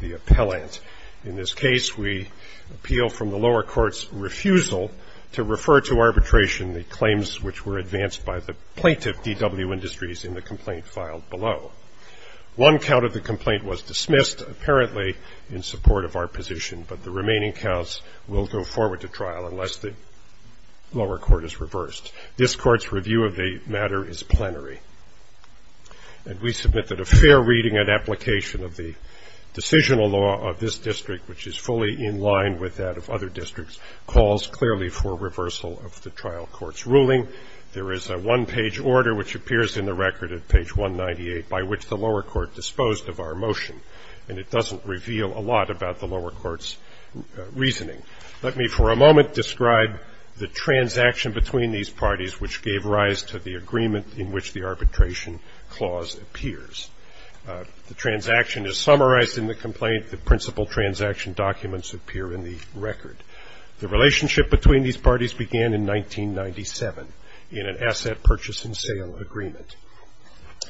The Appellant. In this case, we appeal from the lower court's refusal to refer to arbitration the claims which were advanced by the plaintiff, D.W. Industries, in the complaint filed below. One count of the complaint was dismissed, apparently in support of our position, but the remaining counts will go forward to trial unless the lower court is reversed. This court's review of the matter is plenary, and we submit that a fair reading and application of the decisional law of this district, which is fully in line with that of other districts, calls clearly for reversal of the trial court's ruling. There is a one-page order which appears in the record at page 198 by which the lower court disposed of our motion, and it doesn't reveal a lot about the lower court's reasoning. Let me for a moment describe the transaction between these parties which gave rise to the agreement in which the arbitration clause appears. The transaction is summarized in the complaint. The principal transaction documents appear in the record. The relationship between these parties began in 1997 in an asset purchase and sale agreement.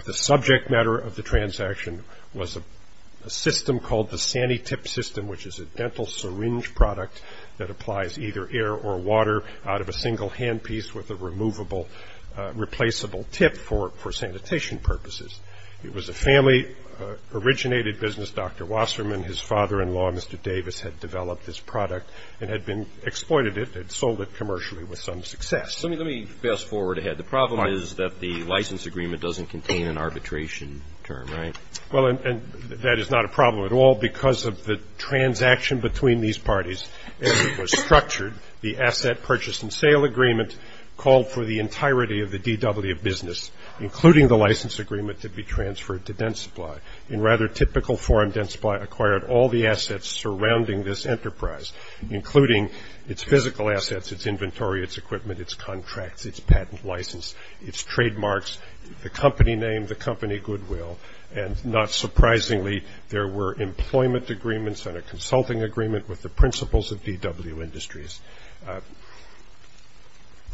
The subject matter of the transaction was a system called the Sani-Tip system, which is a dental syringe product that applies either air or water out of a single handpiece with a replaceable tip for sanitation purposes. It was a family-originated business. Dr. Wasserman, his father-in-law, Mr. Davis, had developed this product and had been exploited it and sold it commercially with some success. Let me fast forward ahead. The problem is that the license agreement doesn't contain an arbitration term, right? Well, and that is not a problem at all because of the transaction between these parties. As it was structured, the asset purchase and sale agreement called for the entirety of the DW of business, including the license agreement to be transferred to Dentsupply. In rather typical form, Dentsupply acquired all the assets surrounding this enterprise, including its physical assets, its inventory, its equipment, its contracts, its patent license, its trademarks, the company name, the company goodwill. And not surprisingly, there were employment agreements and a consulting agreement with the principals of DW Industries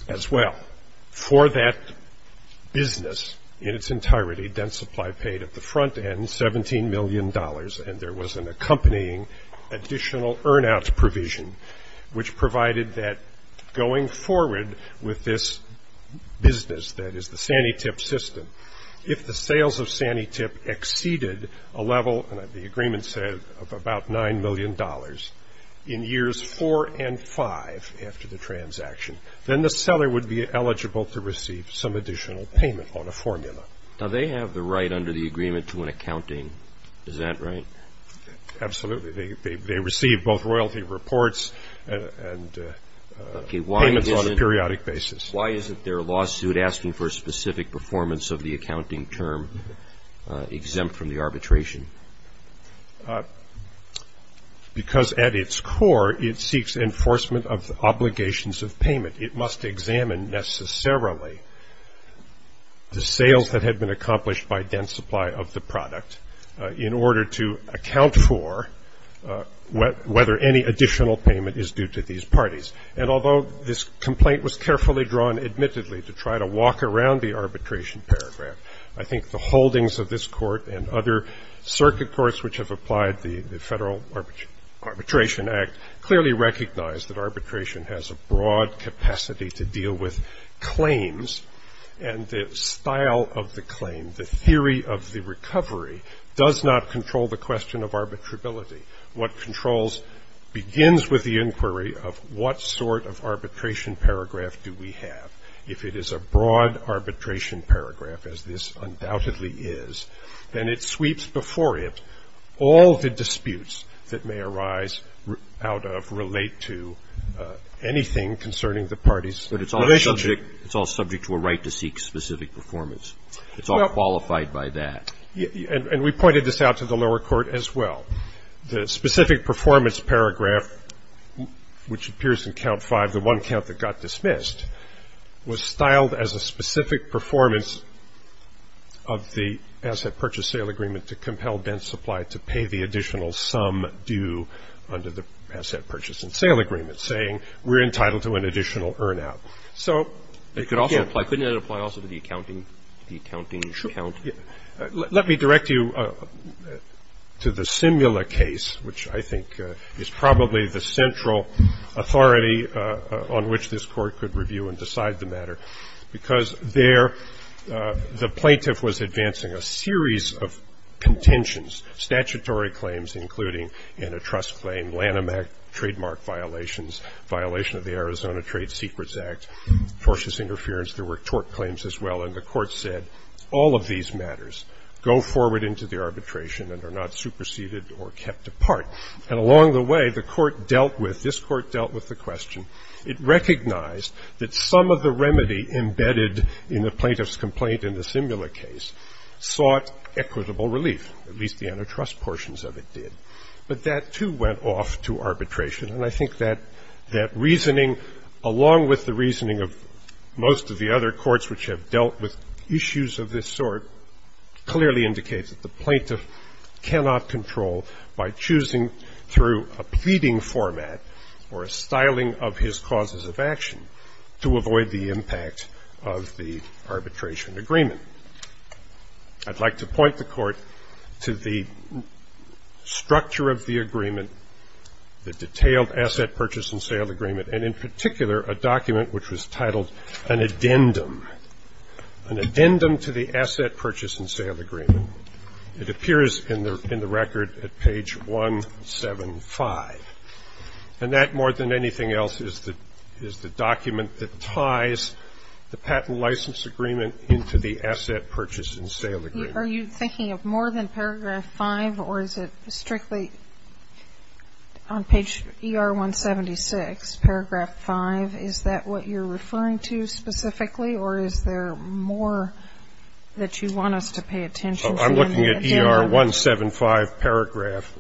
as well. For that business in its entirety, Dentsupply paid at the front end $17 million, and there was an accompanying additional earn-outs provision, which provided that going forward with this business that is the Sani-Tip system, if the sales of Sani-Tip exceeded a level, and the agreement said of about $9 million, in years four and five after the transaction, then the seller would be eligible to receive some additional payment on a formula. Now, they have the right under the agreement to an accounting. Is that right? Absolutely. They receive both royalty reports and payments on a periodic basis. Why isn't their lawsuit asking for a specific performance of the accounting term exempt from the arbitration? Because at its core, it seeks enforcement of obligations of payment. It must examine necessarily the sales that had been accomplished by Dentsupply of the product in order to account for whether any additional payment is due to these parties. And although this complaint was carefully drawn, admittedly, to try to walk around the arbitration paragraph, I think the holdings of this court and other circuit courts, which have applied the Federal Arbitration Act, clearly recognize that arbitration has a broad capacity to deal with claims, and the style of the claim, the theory of the recovery, does not control the question of arbitrability. What controls begins with the inquiry of what sort of arbitration paragraph do we have. If it is a broad arbitration paragraph, as this undoubtedly is, then it sweeps before it all the disputes that may arise out of, relate to anything concerning the party's relationship. But it's all subject to a right to seek specific performance. It's all qualified by that. And we pointed this out to the lower court as well. The specific performance paragraph, which appears in Count 5, the one count that got dismissed, was styled as a specific performance of the asset purchase-sale agreement to compel Dentsupply to pay the additional sum due under the asset purchase-and-sale agreement, saying we're entitled to an additional earn-out. So it could also apply, couldn't it apply also to the accounting count? Let me direct you to the Simula case, which I think is probably the central authority on which this Court could review and decide the matter, because there the plaintiff was advancing a series of contentions, statutory claims including in a trust claim, Lanham Act trademark violations, violation of the Arizona Trade Secrets Act, tortious interference. There were tort claims as well. And the Court said all of these matters go forward into the arbitration and are not superseded or kept apart. And along the way, the Court dealt with, this Court dealt with the question. It recognized that some of the remedy embedded in the plaintiff's complaint in the Simula case sought equitable relief, at least the antitrust portions of it did. But that, too, went off to arbitration. And I think that reasoning, along with the reasoning of most of the other courts which have dealt with issues of this sort, clearly indicates that the plaintiff cannot control by choosing through a pleading format or a styling of his causes of action to avoid the impact of the arbitration agreement. I'd like to point the Court to the structure of the agreement, the detailed asset purchase and sale agreement, and in particular a document which was titled an addendum, an addendum to the asset purchase and sale agreement. It appears in the record at page 175. And that, more than anything else, is the document that ties the patent license agreement into the asset purchase and sale agreement. Sotomayor, are you thinking of more than paragraph 5, or is it strictly on page ER-176, paragraph 5? Is that what you're referring to specifically, or is there more that you want us to pay attention to in the addendum? I'm looking at ER-175, paragraph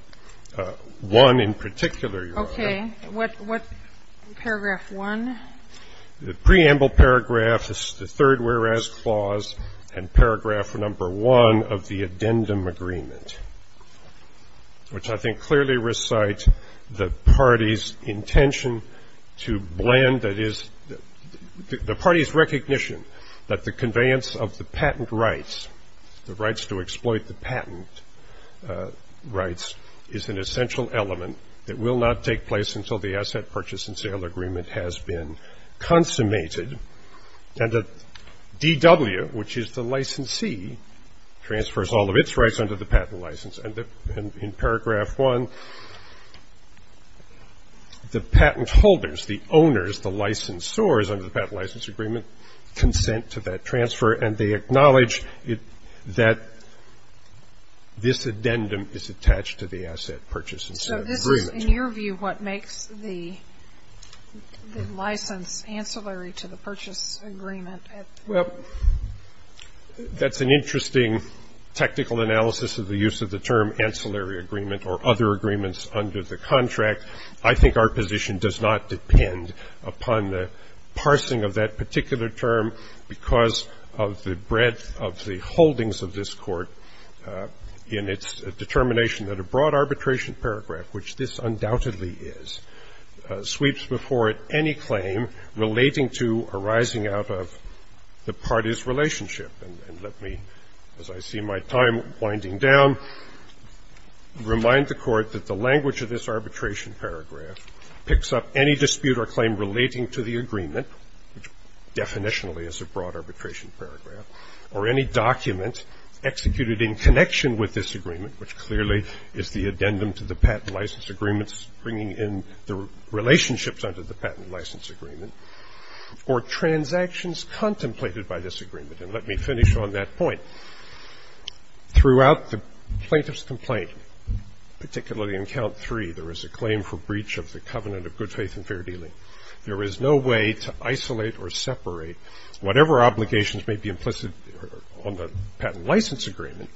1 in particular, Your Honor. Okay. What paragraph 1? The preamble paragraph is the third whereas clause, and paragraph number 1 of the addendum agreement, which I think clearly recites the party's intention to blend, that is, the party's recognition that the conveyance of the patent rights, the rights to exploit the patent rights, is an essential element that will not take place until the asset purchase and sale agreement has been consummated. And the DW, which is the licensee, transfers all of its rights under the patent license. And in paragraph 1, the patent holders, the owners, the licensors under the patent license agreement consent to that transfer, and they acknowledge that this addendum is attached to the asset purchase and sale agreement. So this is, in your view, what makes the license ancillary to the purchase agreement? Well, that's an interesting technical analysis of the use of the term ancillary agreement or other agreements under the contract. I think our position does not depend upon the parsing of that particular term because of the breadth of the holdings of this Court in its determination that a broad arbitration paragraph, which this undoubtedly is, sweeps before it any claim relating to arising out of the party's relationship. And let me, as I see my time winding down, remind the Court that the language of this arbitration paragraph picks up any dispute or claim relating to the agreement, which definitionally is a broad arbitration paragraph, or any document executed in connection with this agreement, which clearly is the addendum to the patent license agreement bringing in the relationships under the patent license agreement, or transactions contemplated by this agreement. And let me finish on that point. Throughout the plaintiff's complaint, particularly in Count 3, there is a claim for breach of the covenant of good faith and fair dealing. There is no way to isolate or separate whatever obligations may be implicit on the patent license agreement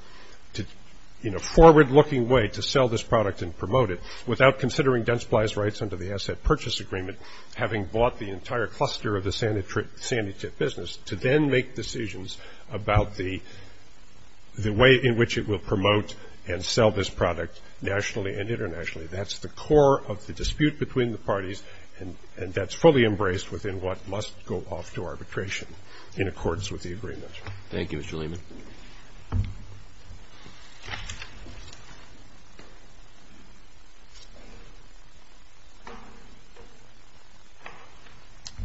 in a forward-looking way to sell this product and promote it without considering Densply's rights under the asset purchase agreement, having bought the entire cluster of the sanity tip business, to then make decisions about the way in which it will promote and sell this product nationally and internationally. That's the core of the dispute between the parties, and that's fully embraced within what must go off to arbitration in accordance with the agreement. Thank you, Mr. Lehman.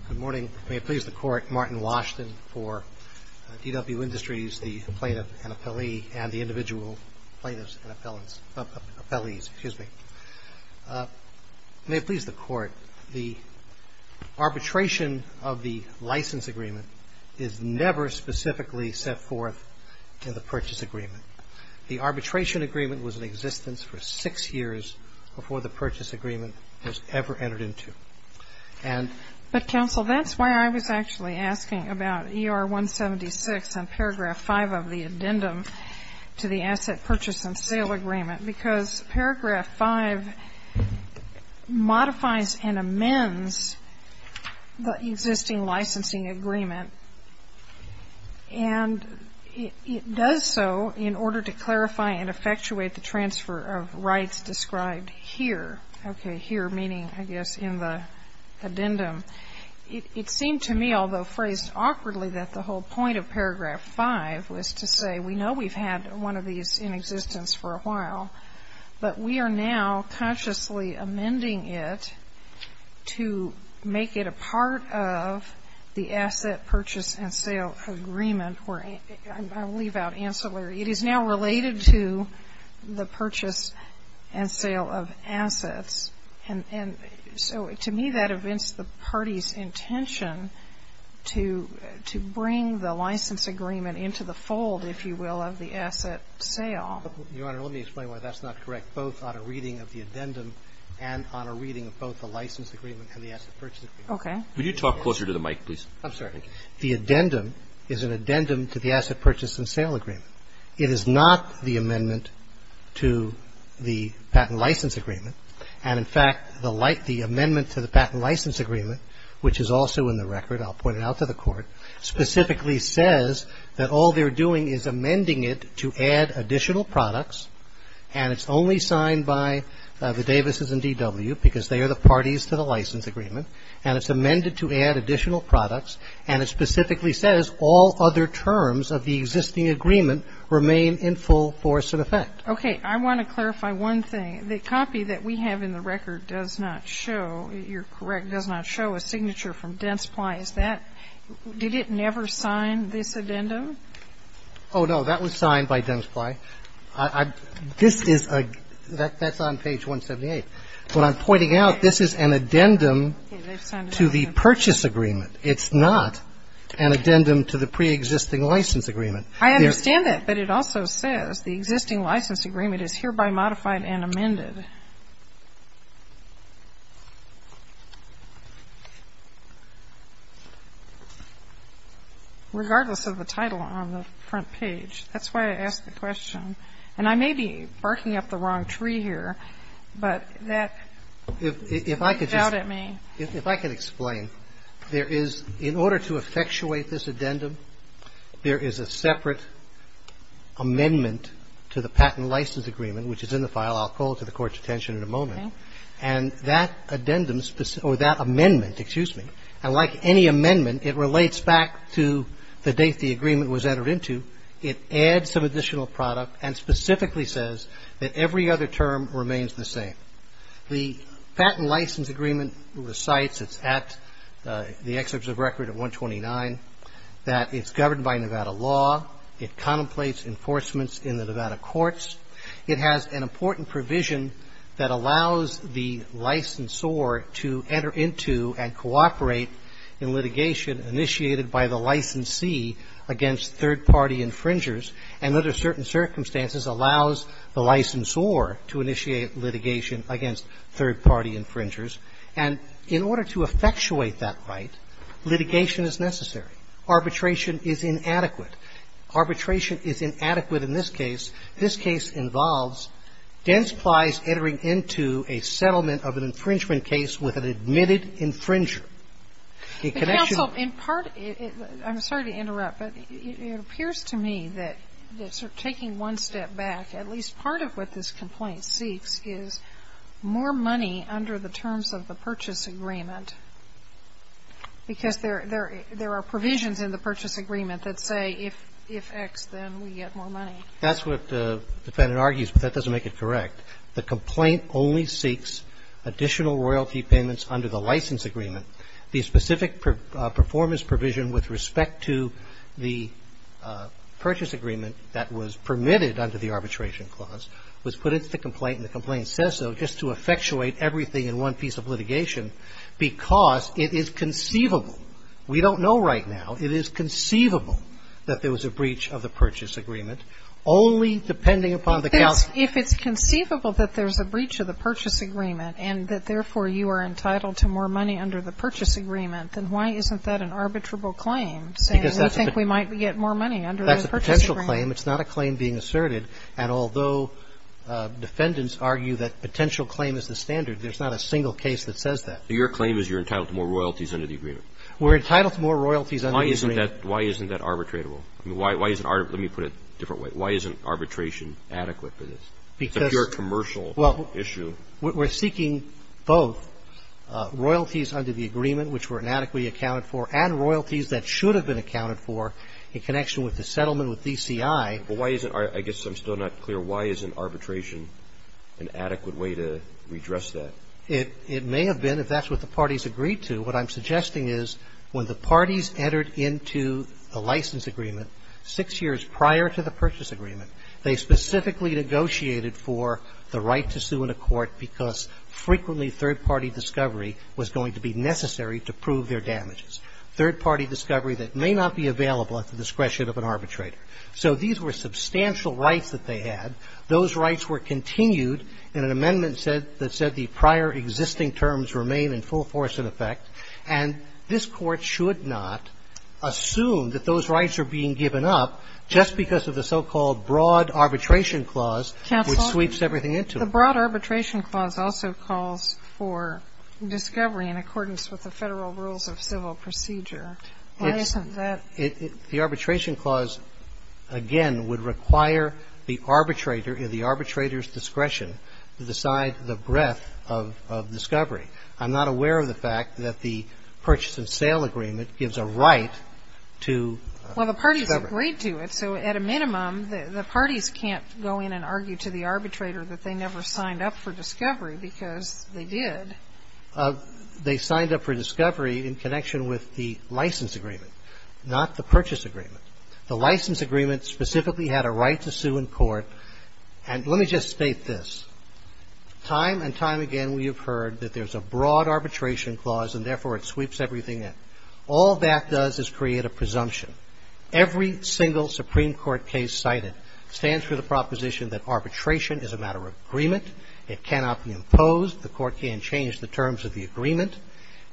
Good morning. May it please the Court, Martin Washington for DW Industries, the plaintiff and appellee, and the individual plaintiffs and appellants, appellees, excuse me. May it please the Court, the arbitration of the license agreement is never specifically set forth in the purchase agreement. The arbitration agreement was in existence for six years before the purchase agreement was ever entered into. And the counsel, that's why I was actually asking about ER 176 and paragraph 5 of the addendum to the asset purchase and sale agreement, because paragraph 5 modifies and amends the existing licensing agreement. And it does so in order to clarify and effectuate the transfer of rights described here. It seemed to me, although phrased awkwardly, that the whole point of paragraph 5 was to say we know we've had one of these in existence for a while, but we are now consciously amending it to make it a part of the asset purchase and sale agreement. I'll leave out ancillary. It is now related to the purchase and sale of assets. And so to me that evinces the party's intention to bring the license agreement into the fold, if you will, of the asset sale. Your Honor, let me explain why that's not correct, both on a reading of the addendum and on a reading of both the license agreement and the asset purchase agreement. Okay. Could you talk closer to the mic, please? I'm sorry. The addendum is an addendum to the asset purchase and sale agreement. It is not the amendment to the patent license agreement. And, in fact, the amendment to the patent license agreement, which is also in the record, I'll point it out to the Court, specifically says that all they're doing is amending it to add additional products. And it's only signed by the Davises and DW because they are the parties to the license agreement. And it's amended to add additional products. And it specifically says all other terms of the existing agreement remain in full force and effect. Okay. I want to clarify one thing. The copy that we have in the record does not show, you're correct, does not show a signature from Densply. Is that ñ did it never sign this addendum? Oh, no. That was signed by Densply. This is a ñ that's on page 178. What I'm pointing out, this is an addendum to the purchase agreement. It's not an addendum to the preexisting license agreement. I understand that. But it also says the existing license agreement is hereby modified and amended. Regardless of the title on the front page. That's why I asked the question. And I may be barking up the wrong tree here, but that ñ If I could just ñ ñ doubted me. If I could explain, there is ñ in order to effectuate this addendum, there is a separate amendment to the patent license agreement, which is in the file. I'll call it to the Court's attention in a moment. Okay. And that addendum ñ or that amendment, excuse me. And like any amendment, it relates back to the date the agreement was entered into. It adds some additional product and specifically says that every other term remains the same. The patent license agreement recites, it's at the excerpts of record at 129, that it's governed by Nevada law. It contemplates enforcements in the Nevada courts. It has an important provision that allows the licensor to enter into and cooperate in litigation initiated by the licensee against third-party infringers, and under certain circumstances allows the licensor to initiate litigation against third-party infringers. And in order to effectuate that right, litigation is necessary. Arbitration is inadequate. Arbitration is inadequate in this case. This case involves dense plies entering into a settlement of an infringement case with an admitted infringer. The connection ñ But, counsel, in part ñ I'm sorry to interrupt, but it appears to me that taking one step back, at least part of what this complaint seeks is more money under the license agreement. Is there a provision in the purchase agreement that say if X, then we get more money? That's what the defendant argues, but that doesn't make it correct. The complaint only seeks additional royalty payments under the license agreement. The specific performance provision with respect to the purchase agreement that was permitted under the arbitration clause was put into the complaint, and the complaint says so just to effectuate everything in one piece of litigation because it is conceivable ñ we don't know right now ñ it is conceivable that there was a breach of the purchase agreement only depending upon the ñ If it's conceivable that there's a breach of the purchase agreement and that, therefore, you are entitled to more money under the purchase agreement, then why isn't that an arbitrable claim, saying we think we might get more money under the purchase agreement? That's a potential claim. It's not a claim being asserted. And although defendants argue that potential claim is the standard, there's not a single case that says that. So your claim is you're entitled to more royalties under the agreement? We're entitled to more royalties under the agreement. Why isn't that ñ why isn't that arbitrable? I mean, why is it ñ let me put it a different way. Why isn't arbitration adequate for this? Because ñ It's a pure commercial issue. Well, we're seeking both royalties under the agreement, which were inadequately accounted for, and royalties that should have been accounted for in connection with the settlement with DCI. Well, why isn't ñ I guess I'm still not clear. Why isn't arbitration an adequate way to redress that? It may have been, if that's what the parties agreed to. What I'm suggesting is when the parties entered into the license agreement six years prior to the purchase agreement, they specifically negotiated for the right to sue in a court because frequently third-party discovery was going to be necessary to prove their damages. Third-party discovery that may not be available at the discretion of an arbitrator. So these were substantial rights that they had. Those rights were continued in an amendment that said the prior existing terms remain in full force and effect, and this Court should not assume that those rights are being given up just because of the so-called broad arbitration clause, which sweeps everything into it. Counsel, the broad arbitration clause also calls for discovery in accordance with the Federal Rules of Civil Procedure. Why isn't that? The arbitration clause, again, would require the arbitrator, the arbitrator's discretion to decide the breadth of discovery. I'm not aware of the fact that the purchase and sale agreement gives a right to discovery. Well, the parties agreed to it, so at a minimum, the parties can't go in and argue to the arbitrator that they never signed up for discovery because they did. They signed up for discovery in connection with the license agreement, not the purchase agreement. The license agreement specifically had a right to sue in court. And let me just state this. Time and time again we have heard that there's a broad arbitration clause and, therefore, it sweeps everything in. All that does is create a presumption. Every single Supreme Court case cited stands for the proposition that arbitration is a matter of agreement. It cannot be imposed. The Court can't change the terms of the agreement.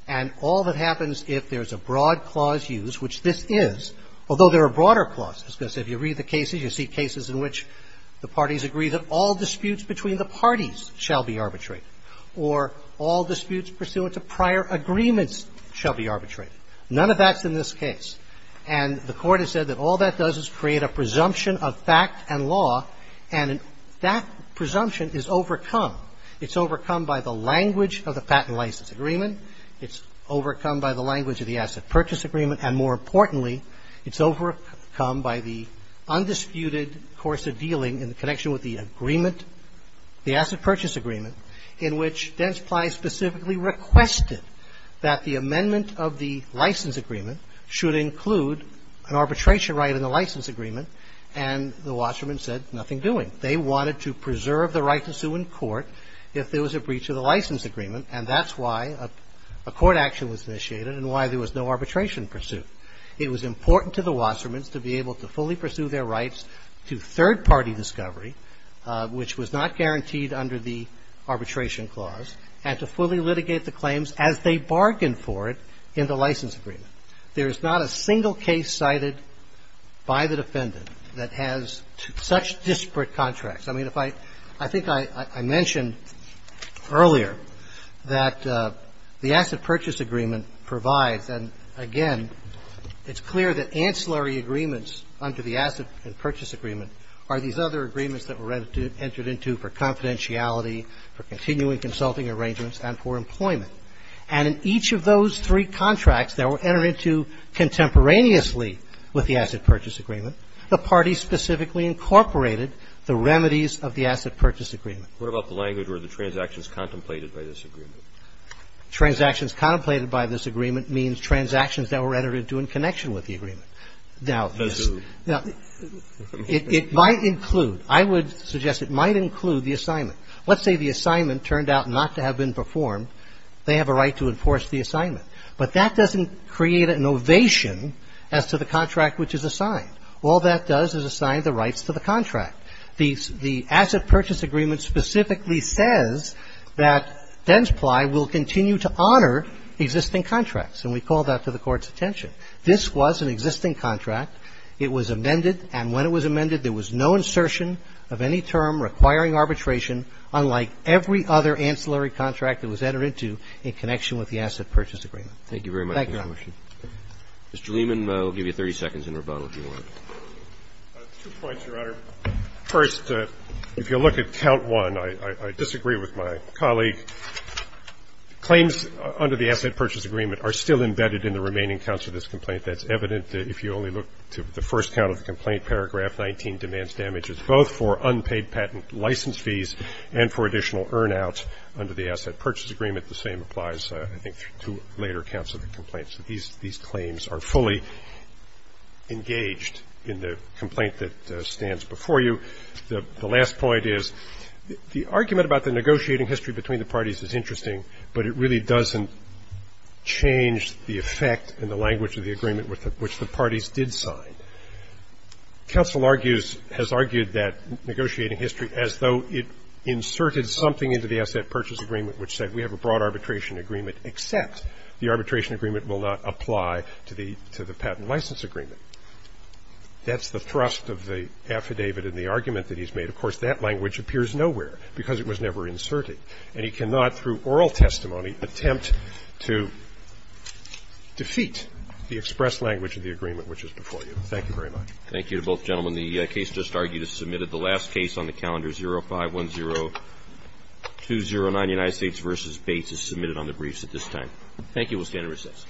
And all that happens if there's a broad clause used, which this is, although there are broader clauses, because if you read the cases, you see cases in which the parties agree that all disputes between the parties shall be arbitrated, or all disputes pursuant to prior agreements shall be arbitrated. None of that's in this case. And the Court has said that all that does is create a presumption of fact and law, and that presumption is overcome. It's overcome by the language of the patent license agreement. It's overcome by the language of the asset purchase agreement. And more importantly, it's overcome by the undisputed course of dealing in the connection with the agreement, the asset purchase agreement, in which Densply specifically requested that the amendment of the license agreement should include an arbitration right in the license agreement, and the watchman said nothing doing. They wanted to preserve the right to sue in court if there was a breach of the license agreement, and that's why a court action was initiated and why there was no arbitration pursuit. It was important to the watchman to be able to fully pursue their rights to third-party discovery, which was not guaranteed under the arbitration clause, and to fully litigate the claims as they bargained for it in the license agreement. There is not a single case cited by the defendant that has such disparate contracts. I mean, if I – I think I mentioned earlier that the asset purchase agreement provides, and again, it's clear that ancillary agreements under the asset and purchase agreement are these other agreements that were entered into for confidentiality, for continuing consulting arrangements, and for employment. And in each of those three contracts that were entered into contemporaneously with the asset purchase agreement, the parties specifically incorporated the remedies of the asset purchase agreement. What about the language where the transactions contemplated by this agreement? Transactions contemplated by this agreement means transactions that were entered into in connection with the agreement. Now, it might include – I would suggest it might include the assignment. Let's say the assignment turned out not to have been performed. They have a right to enforce the assignment. But that doesn't create an ovation as to the contract which is assigned. All that does is assign the rights to the contract. The asset purchase agreement specifically says that Densply will continue to honor existing contracts, and we call that to the Court's attention. This was an existing contract. It was amended, and when it was amended, there was no insertion of any term requiring arbitration, unlike every other ancillary contract that was entered into in connection with the asset purchase agreement. Thank you, Your Honor. Mr. Lehman, I'll give you 30 seconds in rebuttal, if you want. Two points, Your Honor. First, if you look at count one, I disagree with my colleague. Claims under the asset purchase agreement are still embedded in the remaining counts of this complaint. That's evident if you only look to the first count of the complaint, paragraph 19 demands damages both for unpaid patent license fees and for additional earn out under the asset purchase agreement. The same applies, I think, to later counts of the complaint. So these claims are fully engaged in the complaint that stands before you. The last point is the argument about the negotiating history between the parties is interesting, but it really doesn't change the effect and the language of the agreement which the parties did sign. Counsel argues, has argued that negotiating history as though it inserted something into the asset purchase agreement which said we have a broad arbitration agreement except the arbitration agreement will not apply to the patent license agreement. That's the thrust of the affidavit and the argument that he's made. Of course, that language appears nowhere because it was never inserted. And he cannot, through oral testimony, attempt to defeat the express language of the agreement which is before you. Thank you very much. Thank you to both gentlemen. The case just argued is submitted. The last case on the calendar 0510-209, United States v. Bates, is submitted on the briefs at this time. Thank you. We'll stand in recess.